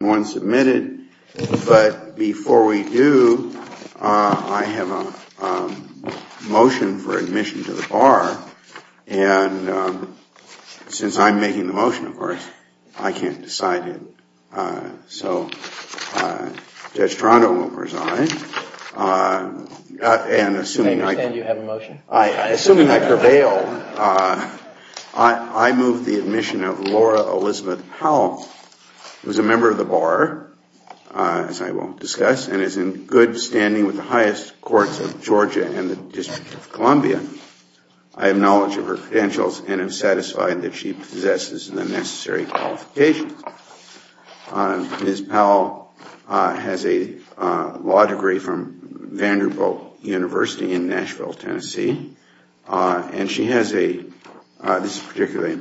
One submitted, but before we do, I have a motion for admission to the bar, and since I'm making the motion, of course, I can't decide it. So Judge Toronto will preside, and assuming I prevail, I move the admission of Laura Elizabeth Powell, who is a member of the bar, as I will discuss, and is in good standing with the highest courts of Georgia and the District of Columbia. I have knowledge of her credentials and am satisfied that she possesses the necessary qualifications. Ms. Powell has a law degree from Vanderbilt University in Nashville, Tennessee, and she has a, this is particularly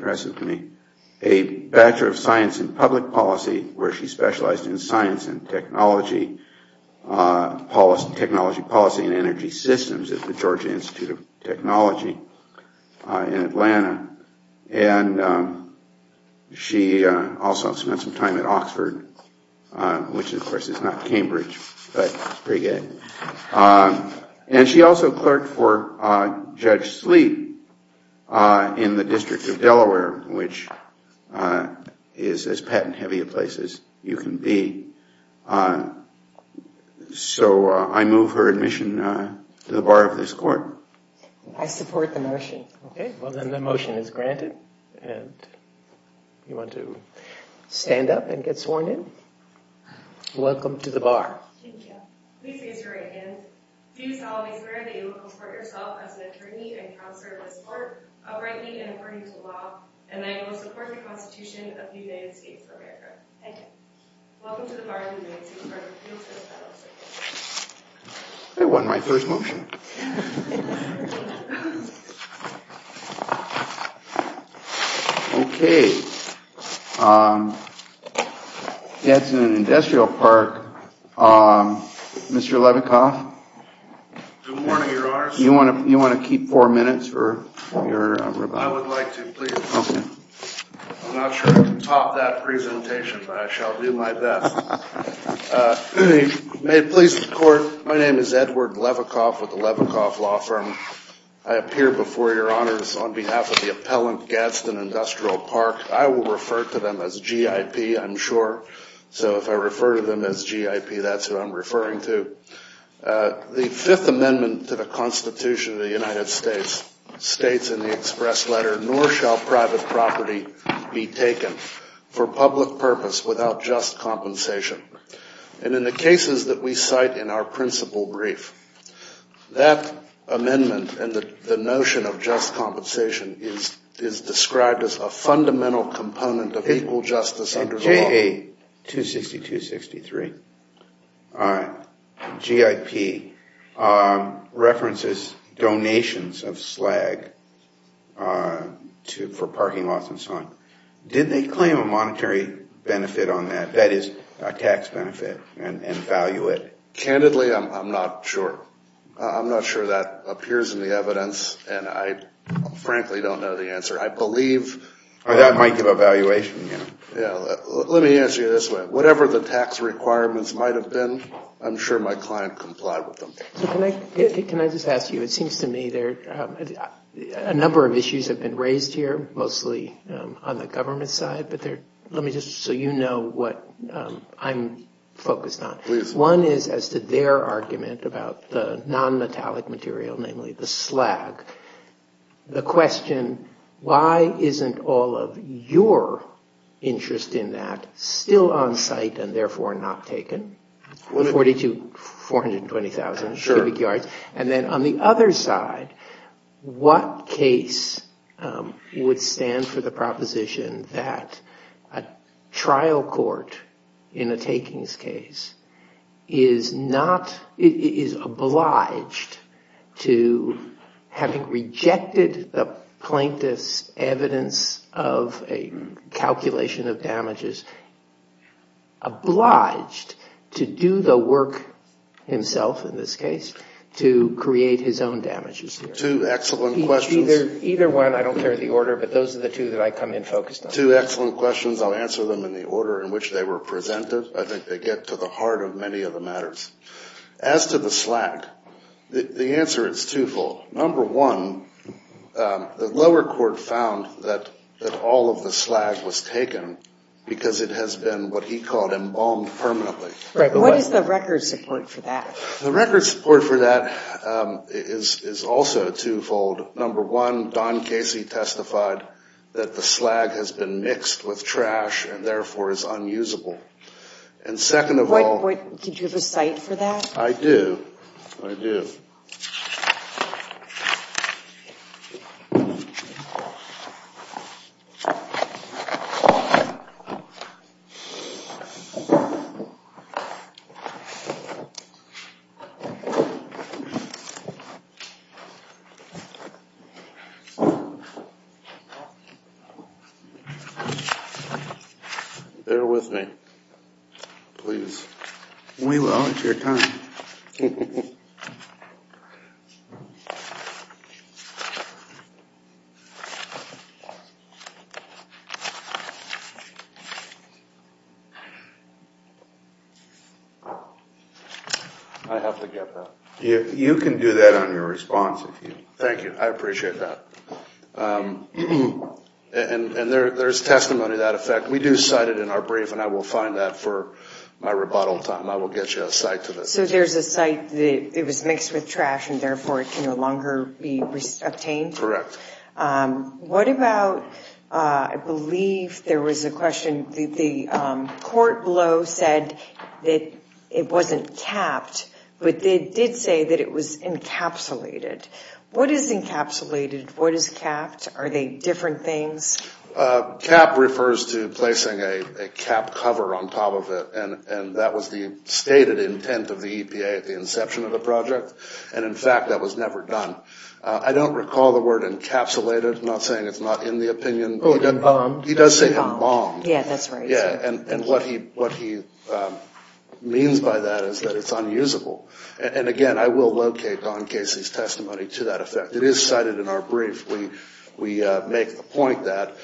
science and public policy, where she specialized in science and technology policy and energy systems at the Georgia Institute of Technology in Atlanta, and she also spent some time at Oxford, which, of course, is not Cambridge, but it's pretty good. And she also clerked for Judge Sleet in the District of Delaware, which is as patent-heavy a place as you can be. So I move her admission to the bar of this court. I support the motion. Okay, well, then the motion is granted, and if you want to stand up and get sworn in, welcome to the bar. Thank you. Please raise your right hand. Do solemnly swear that you will comport yourself as an attorney and counselor of this court, uprightly and according to law, and that you will support the Constitution of the United States of America. Thank you. Welcome to the bar of the United States Court of Appeals, Ms. Powell. I won my first motion. Okay. That's an industrial park. Mr. Levikoff? Good morning, Your Honor. You want to keep four minutes for your rebuttal? I would like to, please. Okay. I'm not sure I can top that presentation, but I shall do my best. I'm here on behalf of the University of Georgia. I'm a lawyer. I'm a lawyer. I work for the Levikoff Law Firm. I appear before Your Honors on behalf of the appellant, Gadsden Industrial Park. I will refer to them as GIP, I'm sure. So if I refer to them as GIP, that's who I'm referring to. The Fifth Amendment to the Constitution of the United States states in the express letter, nor shall private property be taken for public purpose without just compensation. And in the cases that we cite in our principal brief, that amendment and the notion of just compensation is described as a fundamental component of equal justice under the law. Okay, 262-63. GIP references donations of slag for parking lots and so on. Did they claim a monetary benefit on that, that is, a tax benefit and value it? Candidly, I'm not sure. I'm not sure that appears in the evidence, and I frankly don't know the answer. I believe... That might give a valuation. Let me answer you this way. Whatever the tax requirements might have been, I'm sure my client complied with them. Can I just ask you, it seems to me there are a number of issues that have been raised here, mostly on the government side. Let me just, so you know what I'm focused on. Please. One is as to their argument about the non-metallic material, namely the slag. The question, why isn't all of your interest in that still on site and therefore not taken? 42, 420,000 cubic yards. And then on the other side, what case would stand for the proposition that a trial court in a takings case is not, is obliged to, having rejected the plaintiff's evidence of a calculation of damages, obliged to do the work himself in this case to create his own damages? Two excellent questions. Either one, I don't care the order, but those are the two that I come in focused on. Two excellent questions. I'll answer them in the order in which they were presented. I think they get to the heart of many of the matters. As to the slag, the answer is twofold. Number one, the lower court found that all of the slag was taken because it has been what he called embalmed permanently. What is the record support for that? The record support for that is also twofold. Number one, Don Casey testified that the slag has been mixed with trash and therefore is unusable. And second of all. Did you have a site for that? I do. I do. Thank you. Bear with me. Please. We will. It's your time. I have to get that. You can do that on your response. Thank you. I appreciate that. And there's testimony to that effect. We do cite it in our brief and I will find that for my rebuttal time. I will get you a site to this. So there's a site that it was mixed with trash and therefore it can no longer be obtained? Correct. What about, I believe there was a question. The court below said that it wasn't capped. But they did say that it was encapsulated. What is encapsulated? What is capped? Are they different things? Cap refers to placing a cap cover on top of it. And that was the stated intent of the EPA at the inception of the project. And in fact, that was never done. I don't recall the word encapsulated. I'm not saying it's not in the opinion. Embalmed. He does say embalmed. Yeah, that's right. And what he means by that is that it's unusable. And again, I will locate Don Casey's testimony to that effect. It is cited in our brief. We make the point that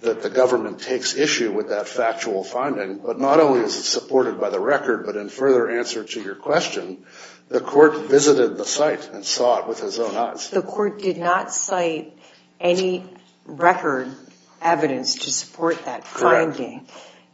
the government takes issue with that factual finding. But not only is it supported by the record, but in further answer to your question, the court visited the site and saw it with his own eyes. The court did not cite any record evidence to support that finding.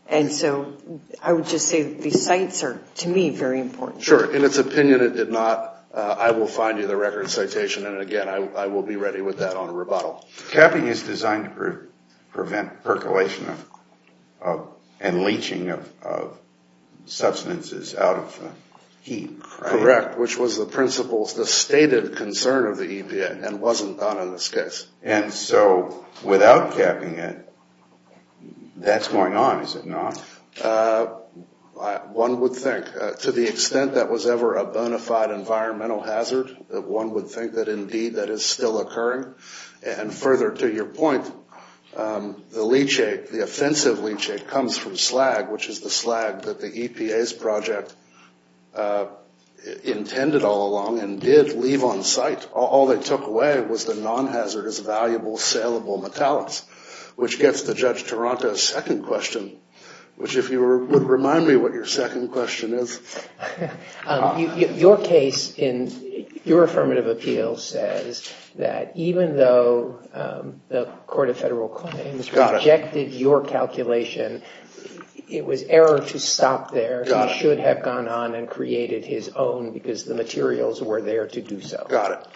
And so I would just say these sites are, to me, very important. Sure. In its opinion, it did not. I will find you the record citation. And again, I will be ready with that on rebuttal. Capping is designed to prevent percolation and leaching of substances out of heat. Correct. Which was the principles, the stated concern of the EPA, and wasn't done in this case. And so without capping it, that's going on, is it not? One would think. To the extent that was ever a bona fide environmental hazard, that one would think that indeed that is still occurring. And further to your point, the leachate, the offensive leachate, comes from slag, which is the slag that the EPA's project intended all along and did leave on site. All they took away was the non-hazardous, valuable, saleable metallics, which gets to Judge Toronto's second question, which if you would remind me what your second question is. Your case in your affirmative appeal says that even though the court of federal claims rejected your calculation, it was error to stop there. He should have gone on and created his own because the materials were there to do so. Got it.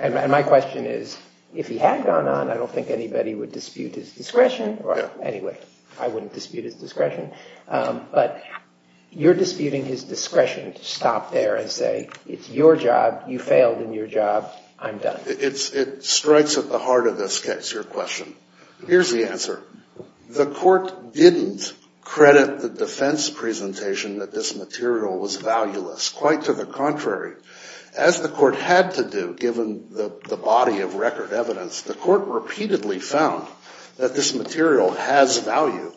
And my question is, if he had gone on, I don't think anybody would dispute his discretion. Anyway, I wouldn't dispute his discretion. But you're disputing his discretion to stop there and say it's your job, you failed in your job, I'm done. It strikes at the heart of this case, your question. Here's the answer. The court didn't credit the defense presentation that this material was valueless. Quite to the contrary. As the court had to do, given the body of record evidence, the court repeatedly found that this material has value.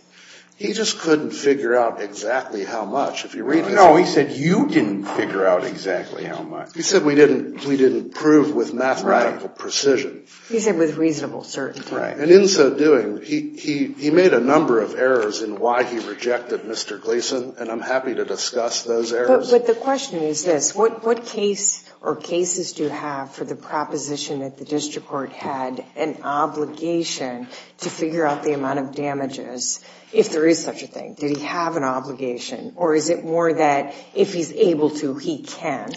He just couldn't figure out exactly how much. No, he said you didn't figure out exactly how much. He said we didn't prove with mathematical precision. He said with reasonable certainty. And in so doing, he made a number of errors in why he rejected Mr. Gleason, and I'm happy to discuss those errors. But the question is this, what case or cases do you have for the proposition that the district court had an obligation to figure out the amount of damages, if there is such a thing? Did he have an obligation, or is it more that if he's able to, he can?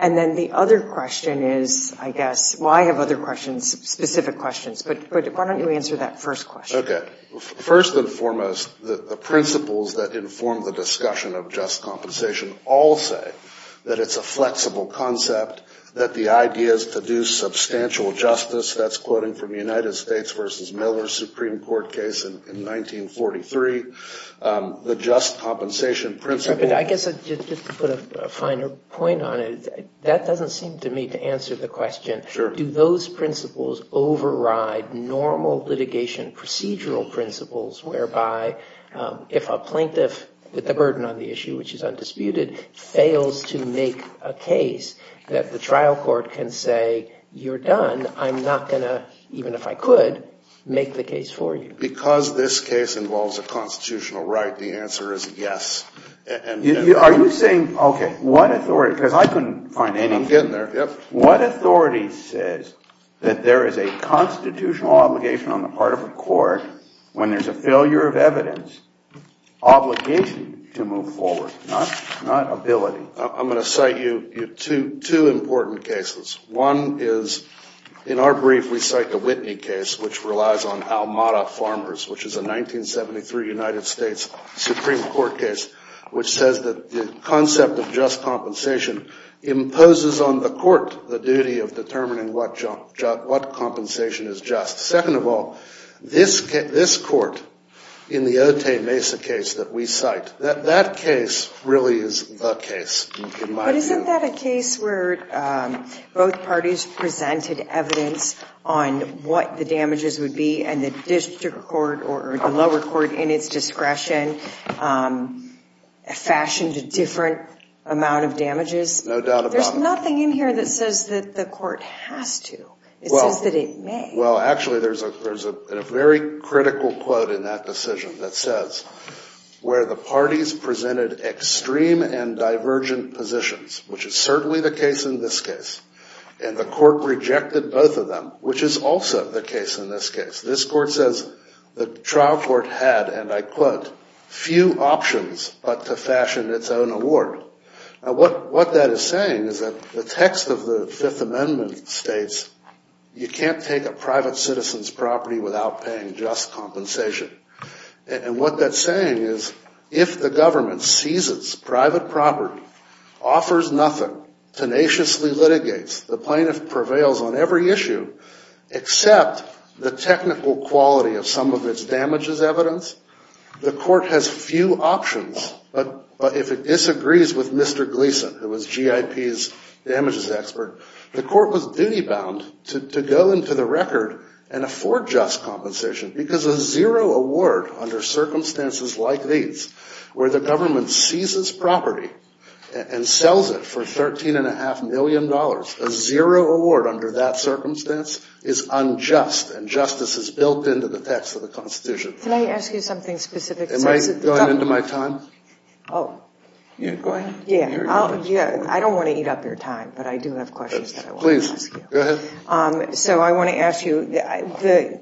And then the other question is, I guess, well, I have other questions, specific questions, but why don't you answer that first question? Okay. First and foremost, the principles that inform the discussion of just compensation all say that it's a flexible concept, that the idea is to do substantial justice. That's quoting from the United States v. Miller Supreme Court case in 1943. The just compensation principle. I guess just to put a finer point on it, that doesn't seem to me to answer the question. Sure. Do those principles override normal litigation procedural principles, whereby if a plaintiff with the burden on the issue, which is undisputed, fails to make a case that the trial court can say, you're done, I'm not going to, even if I could, make the case for you. Because this case involves a constitutional right, the answer is yes. Are you saying, okay, what authority? Because I couldn't find any. I'm getting there. What authority says that there is a constitutional obligation on the part of a court when there's a failure of evidence obligation to move forward, not ability? I'm going to cite you two important cases. One is, in our brief, we cite the Whitney case, which relies on Almada Farmers, which is a 1973 United States Supreme Court case, which says that the concept of just compensation imposes on the court the duty of determining what compensation is just. Second of all, this court, in the Otay Mesa case that we cite, that case really is the case, in my view. But isn't that a case where both parties presented evidence on what the damages would be and the district court or the lower court, in its discretion, fashioned a different amount of damages? No doubt about it. There's nothing in here that says that the court has to. It says that it may. Well, actually, there's a very critical quote in that decision that says, where the parties presented extreme and divergent positions, which is certainly the case in this case, and the court rejected both of them, which is also the case in this case. This court says the trial court had, and I quote, few options but to fashion its own award. Now, what that is saying is that the text of the Fifth Amendment states you can't take a private citizen's property without paying just compensation. And what that's saying is if the government seizes private property, offers nothing, tenaciously litigates, the plaintiff prevails on every issue except the technical quality of some of its damages evidence, the court has few options. But if it disagrees with Mr. Gleason, who was GIP's damages expert, the court was duty-bound to go into the record and afford just compensation because a zero award under circumstances like these, where the government seizes property and sells it for $13.5 million, a zero award under that circumstance is unjust, and justice is built into the text of the Constitution. Can I ask you something specific? Am I going into my time? Oh. Go ahead. I don't want to eat up your time, but I do have questions that I want to ask you. Please, go ahead. So I want to ask you,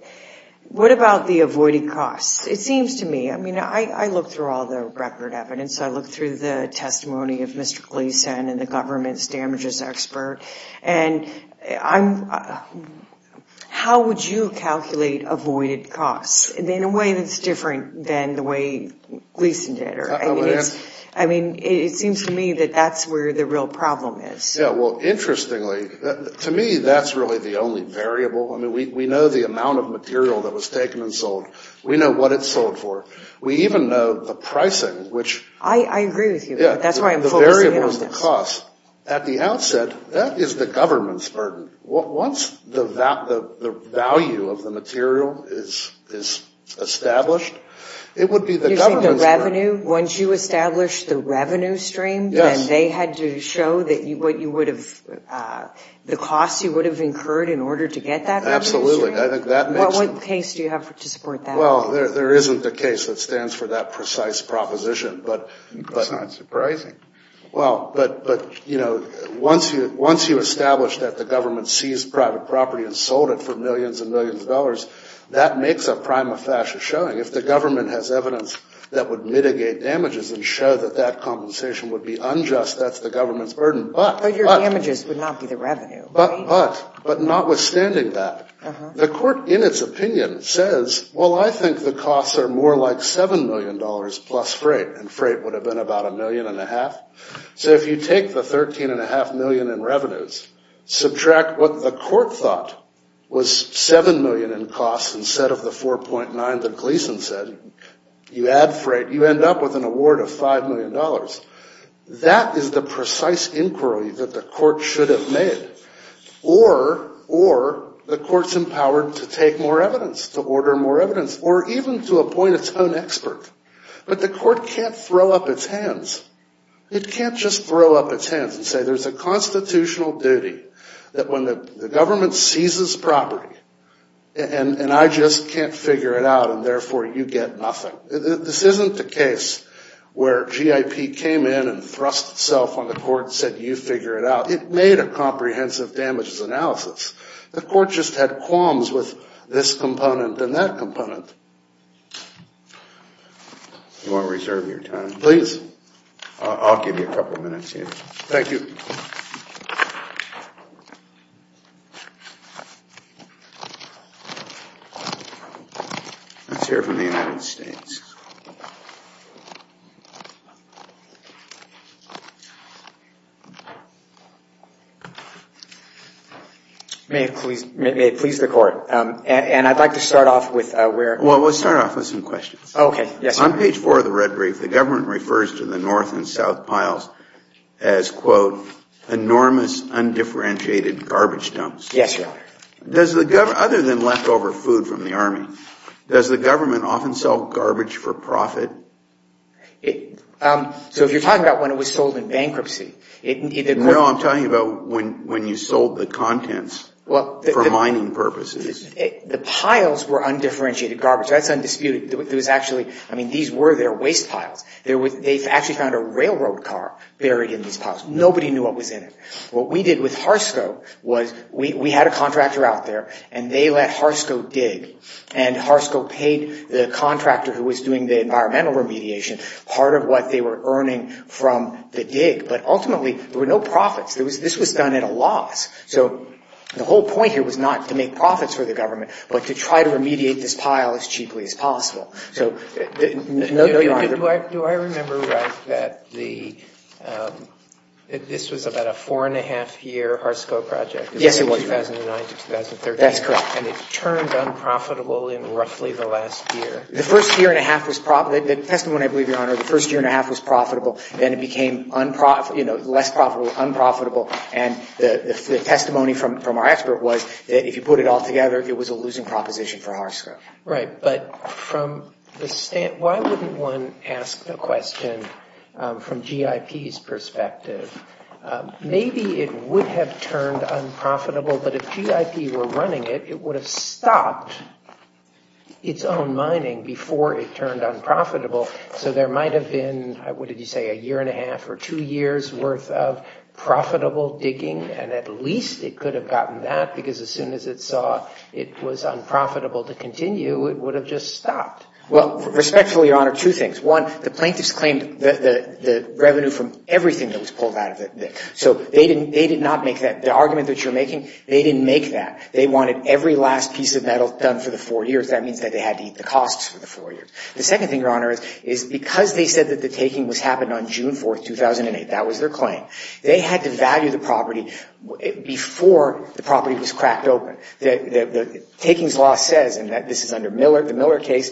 what about the avoided costs? It seems to me, I mean, I look through all the record evidence. I look through the testimony of Mr. Gleason and the government's damages expert, and how would you calculate avoided costs in a way that's different than the way Gleason did? I mean, it seems to me that that's where the real problem is. Yeah, well, interestingly, to me, that's really the only variable. I mean, we know the amount of material that was taken and sold. We know what it's sold for. We even know the pricing, which. I agree with you, but that's why I'm focusing on this. Yeah, the variables and costs. At the outset, that is the government's burden. Once the value of the material is established, it would be the government's burden. You're saying the revenue, once you establish the revenue stream, then they had to show what you would have, the costs you would have incurred in order to get that revenue stream? Absolutely. I think that makes sense. What case do you have to support that? Well, there isn't a case that stands for that precise proposition. That's not surprising. Well, but, you know, once you establish that the government seized private property and sold it for millions and millions of dollars, that makes a prima facie showing. If the government has evidence that would mitigate damages and show that that compensation would be unjust, that's the government's burden. But your damages would not be the revenue. But notwithstanding that, the court, in its opinion, says, well, I think the costs are more like $7 million plus freight, and freight would have been about $1.5 million. So if you take the $13.5 million in revenues, subtract what the court thought was $7 million in costs instead of the $4.9 million that Gleason said, you add freight, you end up with an award of $5 million. That is the precise inquiry that the court should have made. Or the court's empowered to take more evidence, to order more evidence, or even to appoint its own expert. But the court can't throw up its hands. It can't just throw up its hands and say there's a constitutional duty that when the government seizes property and I just can't figure it out and therefore you get nothing. This isn't the case where GIP came in and thrust itself on the court and said you figure it out. It made a comprehensive damages analysis. The court just had qualms with this component and that component. If you want to reserve your time, please. I'll give you a couple of minutes here. Thank you. Let's hear from the United States. May it please the court. And I'd like to start off with where... Well, let's start off with some questions. Okay. Yes, sir. On page 4 of the red brief, the government refers to the north and south piles as, quote, enormous undifferentiated garbage dumps. Yes, Your Honor. Does the government, other than leftover food from the Army, does the government often sell garbage for profit? So if you're talking about when it was sold in bankruptcy... No, I'm talking about when you sold the contents for mining purposes. The piles were undifferentiated garbage. That's undisputed. There was actually... I mean, these were their waste piles. They actually found a railroad car buried in these piles. Nobody knew what was in it. What we did with Harsco was we had a contractor out there and they let Harsco dig. And Harsco paid the contractor who was doing the environmental remediation part of what they were earning from the dig. But ultimately, there were no profits. This was done at a loss. So the whole point here was not to make profits for the government but to try to remediate this pile as cheaply as possible. So no, Your Honor... Do I remember right that this was about a four-and-a-half-year Harsco project? Yes, it was. Between 2009 to 2013. That's correct. And it turned unprofitable in roughly the last year. The first year-and-a-half was profitable. The testimony I believe, Your Honor, the first year-and-a-half was profitable. Then it became less profitable, unprofitable. And the testimony from our expert was that if you put it all together, it was a losing proposition for Harsco. Right. But why wouldn't one ask the question from G.I.P.'s perspective? Maybe it would have turned unprofitable, but if G.I.P. were running it, it would have stopped its own mining before it turned unprofitable. So there might have been, what did you say, a year-and-a-half or two years' worth of profitable digging, and at least it could have gotten that because as soon as it saw it was unprofitable to continue, it would have just stopped. Well, respectfully, Your Honor, two things. One, the plaintiffs claimed the revenue from everything that was pulled out of it. So they did not make that. The argument that you're making, they didn't make that. They wanted every last piece of metal done for the four years. That means that they had to eat the costs for the four years. The second thing, Your Honor, is because they said that the taking was happened on June 4, 2008, that was their claim, they had to value the property before the property was cracked open. The takings law says, and this is under the Miller case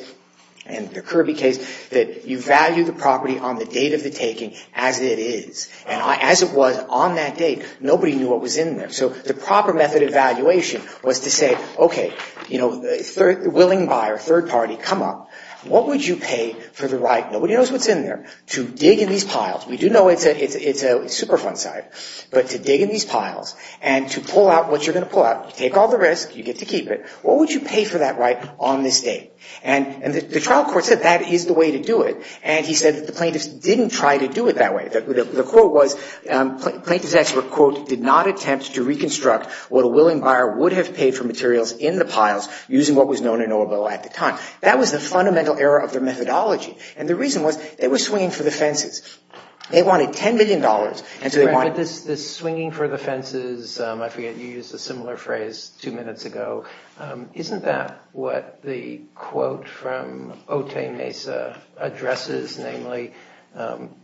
and the Kirby case, that you value the property on the date of the taking as it is. And as it was on that date, nobody knew what was in there. So the proper method of valuation was to say, okay, you know, if a willing buyer, third party, come up, what would you pay for the right? Nobody knows what's in there. To dig in these piles. We do know it's a Superfund site. But to dig in these piles and to pull out what you're going to pull out, you take all the risk, you get to keep it, what would you pay for that right on this date? And the trial court said that is the way to do it. And he said that the plaintiffs didn't try to do it that way. The quote was, plaintiffs expert, quote, did not attempt to reconstruct what a willing buyer would have paid for materials in the piles using what was known in Oroville at the time. That was the fundamental error of their methodology. And the reason was, they were swinging for the fences. They wanted $10 million. And so they wanted – But this swinging for the fences, I forget, you used a similar phrase two minutes ago. Isn't that what the quote from Otay Mesa addresses? Namely,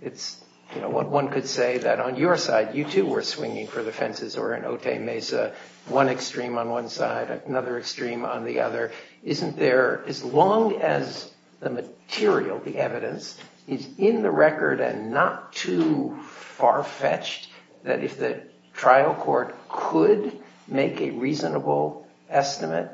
it's, you know, one could say that on your side, you too were swinging for the fences or in Otay Mesa, one extreme on one side, another extreme on the other. Isn't there, as long as the material, the evidence, is in the record and not too far-fetched that if the trial court could make a reasonable estimate,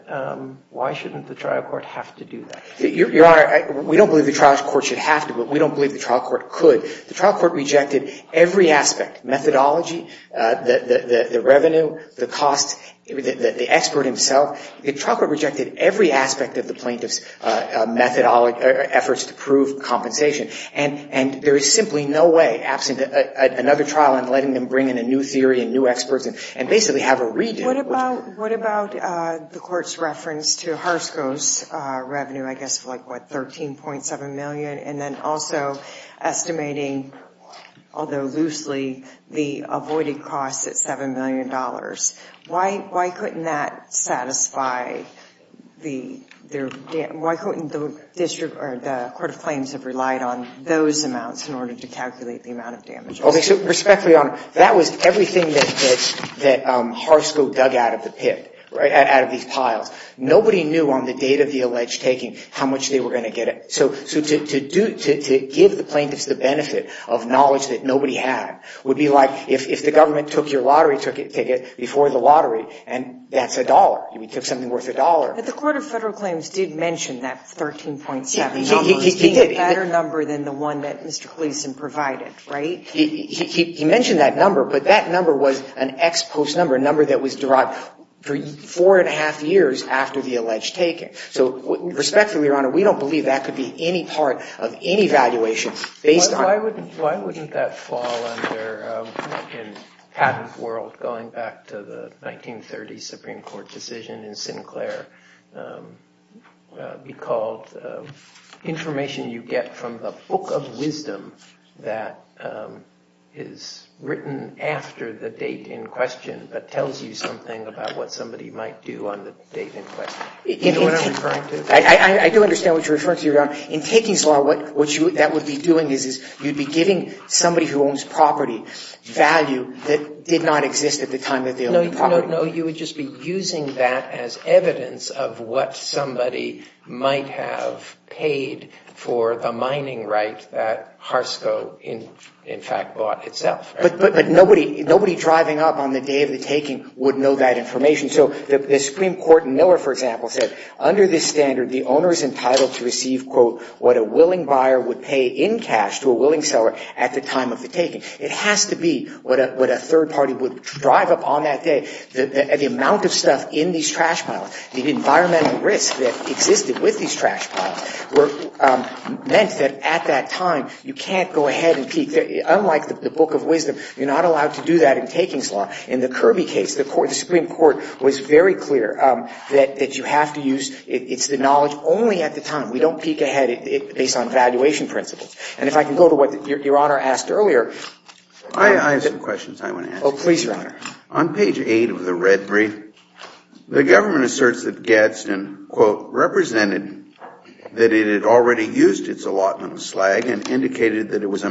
why shouldn't the trial court have to do that? Your Honor, we don't believe the trial court should have to, but we don't believe the trial court could. The trial court rejected every aspect, methodology, the revenue, the cost, the expert himself. The trial court rejected every aspect of the plaintiff's methodology, efforts to prove compensation. And there is simply no way, absent another trial and letting them bring in a new theory and new experts and basically have a redid. What about the court's reference to Harsko's revenue, I guess, for like, what, $13.7 million? And then also estimating, although loosely, the avoided costs at $7 million. Why couldn't that satisfy the court of claims have relied on those amounts in order to calculate the amount of damages? Respectfully, Your Honor, that was everything that Harsko dug out of the pit, out of these piles. Nobody knew on the date of the alleged taking how much they were going to get. So to give the plaintiffs the benefit of knowledge that nobody had would be like if the government took your lottery ticket before the lottery, and that's a dollar. We took something worth a dollar. But the court of federal claims did mention that 13.7 number. He did. It's a better number than the one that Mr. Cleveson provided, right? He mentioned that number, but that number was an ex post number, a number that was derived four and a half years after the alleged taking. So respectfully, Your Honor, we don't believe that could be any part of any valuation based on Why wouldn't that fall under, in Patton's world, going back to the 1930 Supreme Court decision in Sinclair, be called information you get from the book of wisdom that is written after the date in question that tells you something about what somebody might do on the date in question? Do you know what I'm referring to? I do understand what you're referring to, Your Honor. In taking's law, what that would be doing is you'd be giving somebody who owns property value that did not exist at the time that they owned the property. No, you would just be using that as evidence of what somebody might have paid for the mining right that Harsco, in fact, bought itself. But nobody driving up on the day of the taking would know that information. So the Supreme Court in Miller, for example, said under this standard, the owner is entitled to receive, quote, what a willing buyer would pay in cash to a willing seller at the time of the taking. It has to be what a third party would drive up on that day. The amount of stuff in these trash piles, the environmental risk that existed with these trash piles meant that at that time you can't go ahead and peek. Unlike the book of wisdom, you're not allowed to do that in taking's law. In the Kirby case, the Supreme Court was very clear that you have to use the knowledge only at the time. We don't peek ahead based on valuation principles. And if I can go to what Your Honor asked earlier. I have some questions I want to ask. Oh, please, Your Honor. On page 8 of the red brief, the government asserts that Gadsden, quote, represented that it had already used its allotment of slag and indicated that it was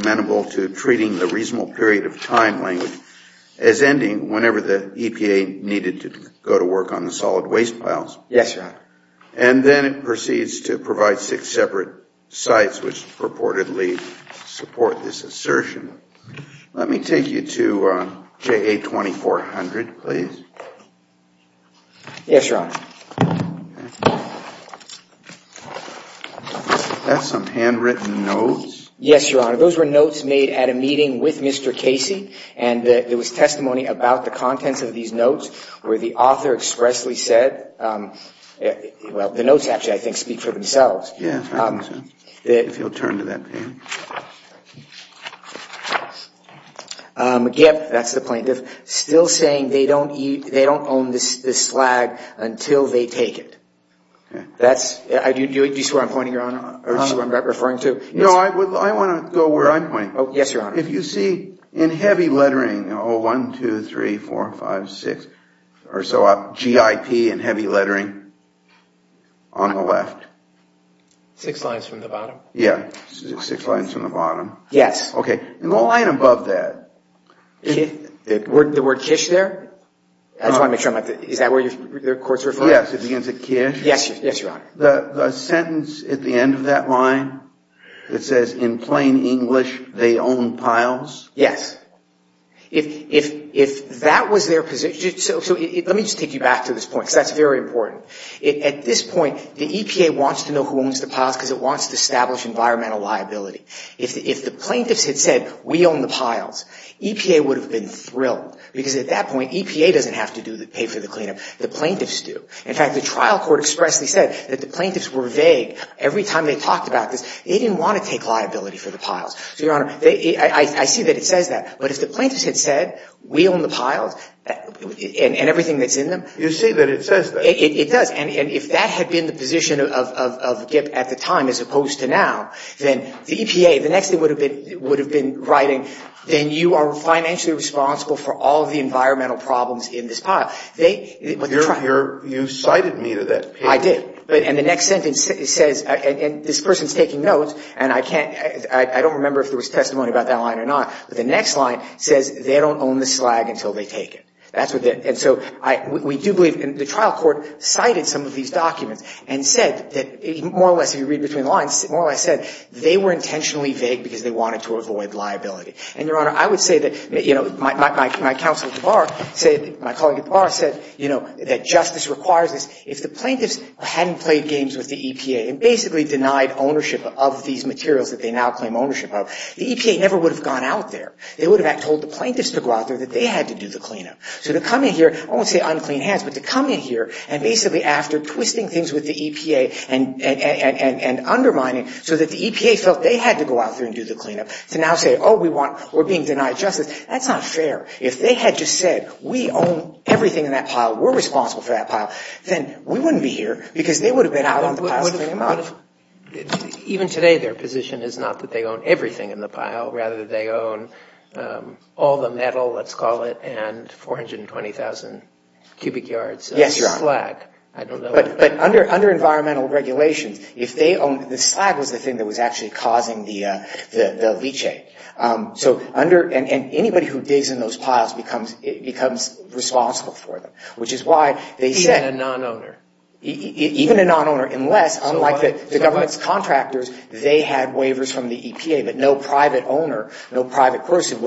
whenever the EPA needed to go to work on the solid waste piles. Yes, Your Honor. And then it proceeds to provide six separate sites which purportedly support this assertion. Let me take you to JA 2400, please. Yes, Your Honor. That's some handwritten notes. Yes, Your Honor. Those were notes made at a meeting with Mr. Casey. And there was testimony about the contents of these notes where the author expressly said, well, the notes actually, I think, speak for themselves. Yes, I think so. If you'll turn to that page. Yep, that's the plaintiff. Still saying they don't own this slag until they take it. Do you see where I'm pointing, Your Honor, or do you see what I'm referring to? Yes, Your Honor. If you see in heavy lettering, oh, one, two, three, four, five, six, or so, GIP in heavy lettering on the left. Six lines from the bottom. Yeah, six lines from the bottom. Yes. Okay. And the line above that. The word kish there? I just want to make sure. Is that where the court's referring to? Yes, it begins with kish. Yes, Your Honor. The sentence at the end of that line that says, in plain English, they own piles? Yes. If that was their position. So let me just take you back to this point because that's very important. At this point, the EPA wants to know who owns the piles because it wants to establish environmental liability. If the plaintiffs had said, we own the piles, EPA would have been thrilled because at that point, EPA doesn't have to pay for the cleanup. The plaintiffs do. In fact, the trial court expressly said that the plaintiffs were vague. Every time they talked about this, they didn't want to take liability for the piles. So, Your Honor, I see that it says that. But if the plaintiffs had said, we own the piles and everything that's in them. You see that it says that. It does. And if that had been the position of GIP at the time as opposed to now, then the EPA, the next thing it would have been writing, then you are financially responsible for all of the environmental problems in this pile. You cited me to that page. I did. And the next sentence says, and this person is taking notes, and I don't remember if there was testimony about that line or not. But the next line says, they don't own the slag until they take it. That's what it did. And so we do believe, and the trial court cited some of these documents and said, more or less, if you read between the lines, more or less said, they were intentionally vague because they wanted to avoid liability. And, Your Honor, I would say that, you know, my counsel at the bar said, my colleague at the bar said, you know, that justice requires this. If the plaintiffs hadn't played games with the EPA and basically denied ownership of these materials that they now claim ownership of, the EPA never would have gone out there. They would have told the plaintiffs to go out there that they had to do the cleanup. So to come in here, I won't say unclean hands, but to come in here and basically after twisting things with the EPA and undermining so that the EPA felt they had to go out there and do the cleanup, to now say, oh, we want, we're being denied justice, that's not fair. If they had just said, we own everything in that pile, we're responsible for that pile, then we wouldn't be here because they would have been out on the pile. Even today their position is not that they own everything in the pile. Rather, they own all the metal, let's call it, and 420,000 cubic yards of slag. Yes, Your Honor. I don't know. But under environmental regulations, if they own, the slag was the thing that was actually causing the leachate. So under, and anybody who digs in those piles becomes responsible for them, which is why they said. Even a non-owner. Even a non-owner, unless, unlike the government's contractors, they had waivers from the EPA, but no private owner, no private person who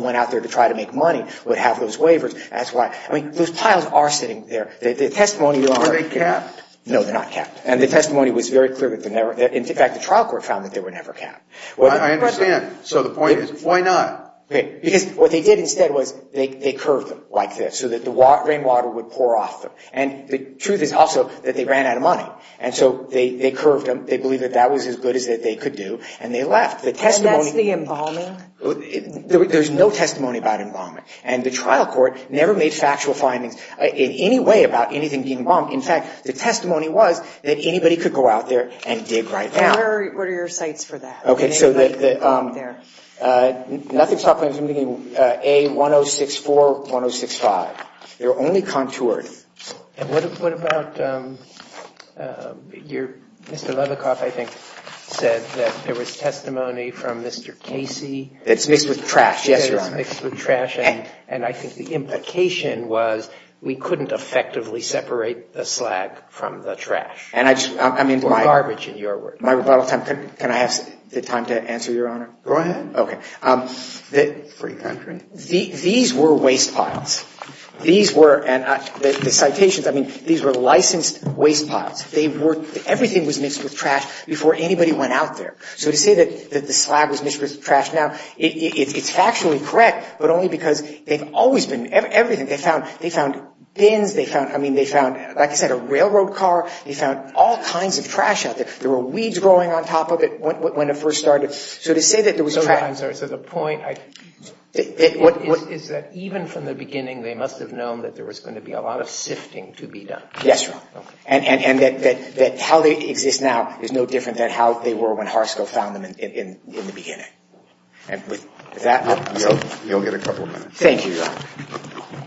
went out there to try to make money would have those waivers. That's why, I mean, those piles are sitting there. The testimony, Your Honor. Are they capped? No, they're not capped. And the testimony was very clear that they're never, in fact, the trial court found that they were never capped. I understand. So the point is, why not? Because what they did instead was they curved them like this so that the rainwater would pour off them. And the truth is also that they ran out of money. And so they curved them. They believed that that was as good as they could do, and they left. And that's the embalming? There's no testimony about embalming. And the trial court never made factual findings in any way about anything being bombed. In fact, the testimony was that anybody could go out there and dig right down. What are your cites for that? Okay. So the, nothing stopped them from digging A1064, 1065. They were only contoured. And what about your, Mr. Levikoff, I think, said that there was testimony from Mr. Casey. That's mixed with trash. Yes, Your Honor. Mixed with trash. And I think the implication was we couldn't effectively separate the slag from the trash. And I just, I mean. Or garbage, in your words. My rebuttal time, can I have the time to answer, Your Honor? Go ahead. Okay. Free country. These were waste piles. These were, and the citations, I mean, these were licensed waste piles. They were, everything was mixed with trash before anybody went out there. So to say that the slag was mixed with trash now, it's factually correct, but only because they've always been, everything. They found bins. They found, I mean, they found, like I said, a railroad car. They found all kinds of trash out there. There were weeds growing on top of it when it first started. So to say that there was trash. So, Your Honor, so the point is that even from the beginning they must have known that there was going to be a lot of sifting to be done. Yes, Your Honor. Okay. And that how they exist now is no different than how they were when Harsko found them in the beginning. And with that, I'll stop. You'll get a couple of minutes. Thank you, Your Honor.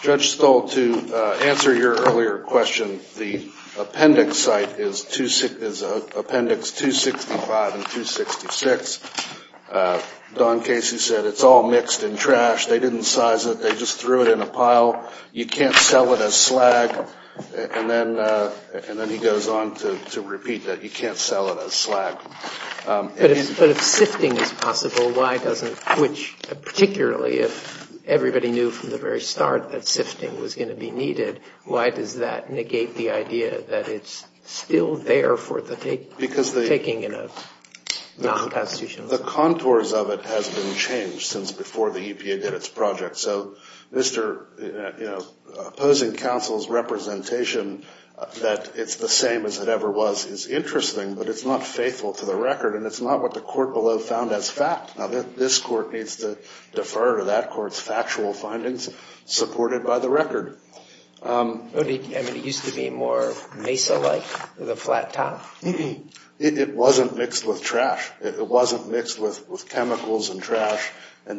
Judge Stoll, to answer your earlier question, the appendix site is appendix 265 and 266. Don Casey said it's all mixed in trash. They didn't size it. They just threw it in a pile. You can't sell it as slag. And then he goes on to repeat that. You can't sell it as slag. But if sifting is possible, why doesn't, which particularly if everybody knew from the very start that sifting was going to be needed, why does that negate the idea that it's still there for the taking in a non-constitutional sense? The contours of it has been changed since before the EPA did its project. So Mr. opposing counsel's representation that it's the same as it ever was is interesting, but it's not faithful to the record, and it's not what the court below found as fact. Now, this court needs to defer to that court's factual findings supported by the record. But it used to be more Mesa-like with a flat top? It wasn't mixed with trash. It wasn't mixed with chemicals and trash. Does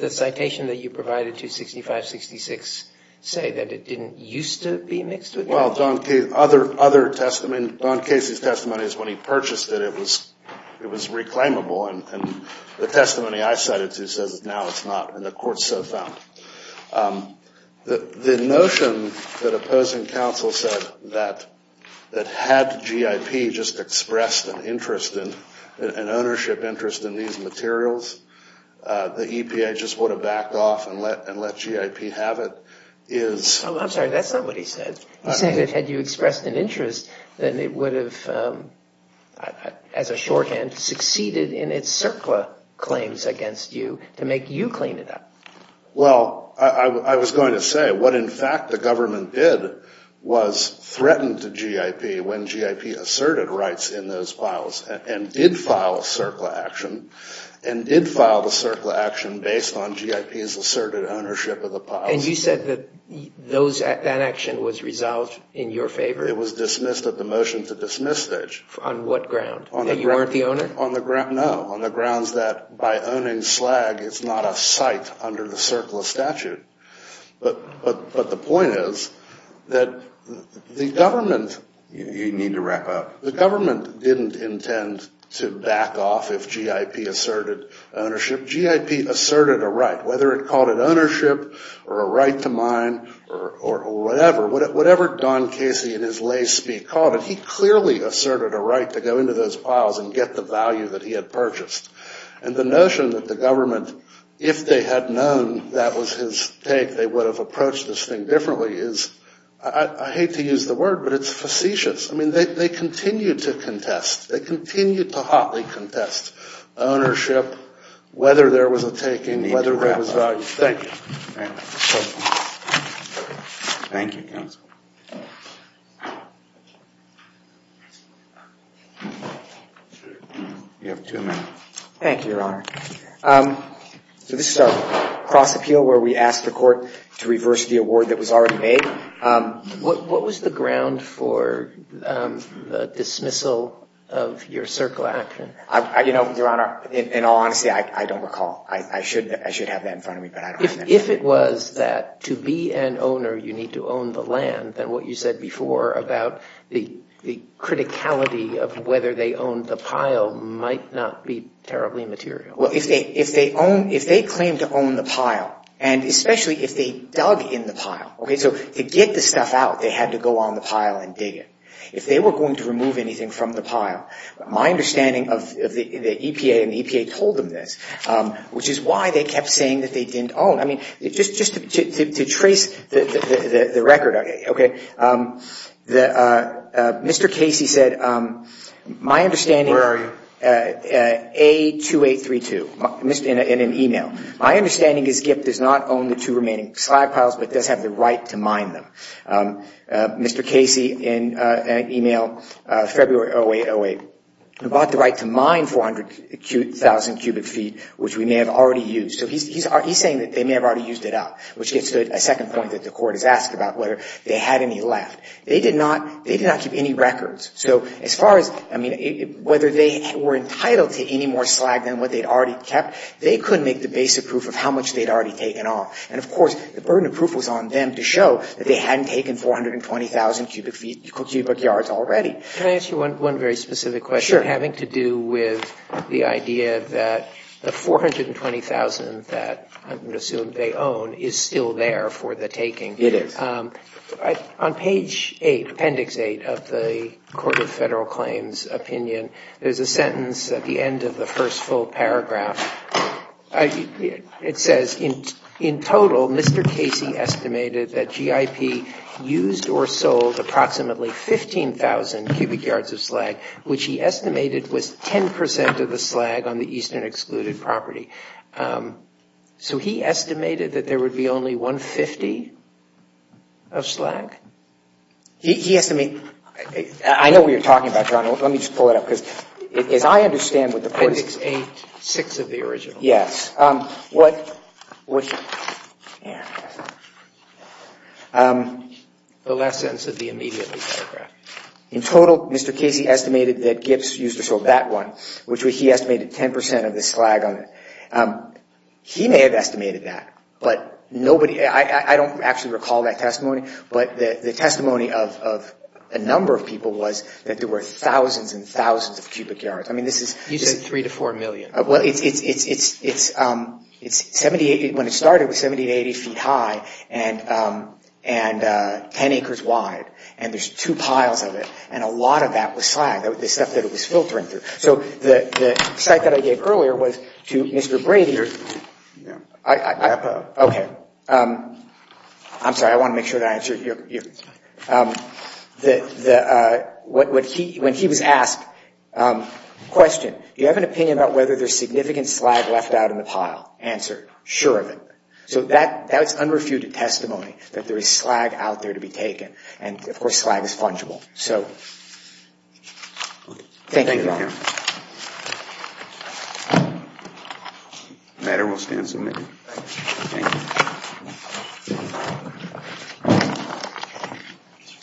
the citation that you provided to 6566 say that it didn't used to be mixed with trash? Well, Don Casey's testimony is when he purchased it, it was reclaimable. And the testimony I cited to says now it's not, and the court so found. The notion that opposing counsel said that had G.I.P. just expressed an interest, an ownership interest in these materials, the EPA just would have backed off and let G.I.P. have it, is... I'm sorry, that's not what he said. He said that had you expressed an interest, then it would have, as a shorthand, succeeded in its CERCLA claims against you to make you clean it up. Well, I was going to say what in fact the government did was threaten to G.I.P. when G.I.P. asserted rights in those piles and did file a CERCLA action, and did file the CERCLA action based on G.I.P.'s asserted ownership of the piles. And you said that that action was resolved in your favor? It was dismissed at the motion to dismiss stage. On what ground? That you weren't the owner? No, on the grounds that by owning slag, it's not a site under the CERCLA statute. But the point is that the government... You need to wrap up. The government didn't intend to back off if G.I.P. asserted ownership. G.I.P. asserted a right, whether it called it ownership or a right to mine or whatever, whatever Don Casey in his lay speak called it, he clearly asserted a right to go into those piles and get the value that he had purchased. And the notion that the government, if they had known that was his take, they would have approached this thing differently is... I hate to use the word, but it's facetious. I mean, they continued to contest. They continued to hotly contest ownership, whether there was a taking, whether there was value. Thank you. Thank you, counsel. You have two minutes. Thank you, Your Honor. So this is our cross appeal where we asked the court to reverse the award that was already made. What was the ground for the dismissal of your CERCLA action? You know, Your Honor, in all honesty, I don't recall. I should have that in front of me, but I don't remember. If it was that to be an owner you need to own the land, then what you said before about the criticality of whether they owned the pile might not be terribly material. Well, if they claim to own the pile, and especially if they dug in the pile, okay, so to get the stuff out they had to go on the pile and dig it. If they were going to remove anything from the pile, my understanding of the EPA, and the EPA told them this, which is why they kept saying that they didn't own. I mean, just to trace the record, okay, Mr. Casey said, my understanding. Where are you? A2832 in an e-mail. My understanding is GIP does not own the two remaining slag piles but does have the right to mine them. Mr. Casey in an e-mail, February 0808, who bought the right to mine 400,000 cubic feet, which we may have already used. So he's saying that they may have already used it up, which gets to a second point that the Court has asked about, whether they had any left. They did not keep any records. So as far as, I mean, whether they were entitled to any more slag than what they'd already kept, they couldn't make the basic proof of how much they'd already taken off. And, of course, the burden of proof was on them to show that they hadn't taken 420,000 cubic yards already. Can I ask you one very specific question? Sure. Having to do with the idea that the 420,000 that I would assume they own is still there for the taking. It is. On page 8, appendix 8 of the Court of Federal Claims opinion, there's a sentence at the end of the first full paragraph. It says, in total, Mr. Casey estimated that G.I.P. used or sold approximately 15,000 cubic yards of slag, which he estimated was 10 percent of the slag on the Eastern Excluded Property. So he estimated that there would be only 150 of slag? He estimated – I know what you're talking about, John. Let me just pull it up. Appendix 8, 6 of the original. Yes. The last sentence of the immediate paragraph. In total, Mr. Casey estimated that G.I.P. used or sold that one, which he estimated 10 percent of the slag on it. He may have estimated that, but nobody – I don't actually recall that testimony, but the testimony of a number of people was that there were thousands and thousands of cubic yards. I mean, this is – You said 3 to 4 million. Well, it's – when it started, it was 70 to 80 feet high and 10 acres wide, and there's two piles of it, and a lot of that was slag, the stuff that it was filtering through. So the cite that I gave earlier was to Mr. Brady. Wrap up. Okay. I'm sorry, I want to make sure that I answer you. When he was asked, question, do you have an opinion about whether there's significant slag left out in the pile? Answer, sure of it. So that's unrefuted testimony, that there is slag out there to be taken. And, of course, slag is fungible. So thank you, John. Thank you. The matter will stand submitted. Thank you.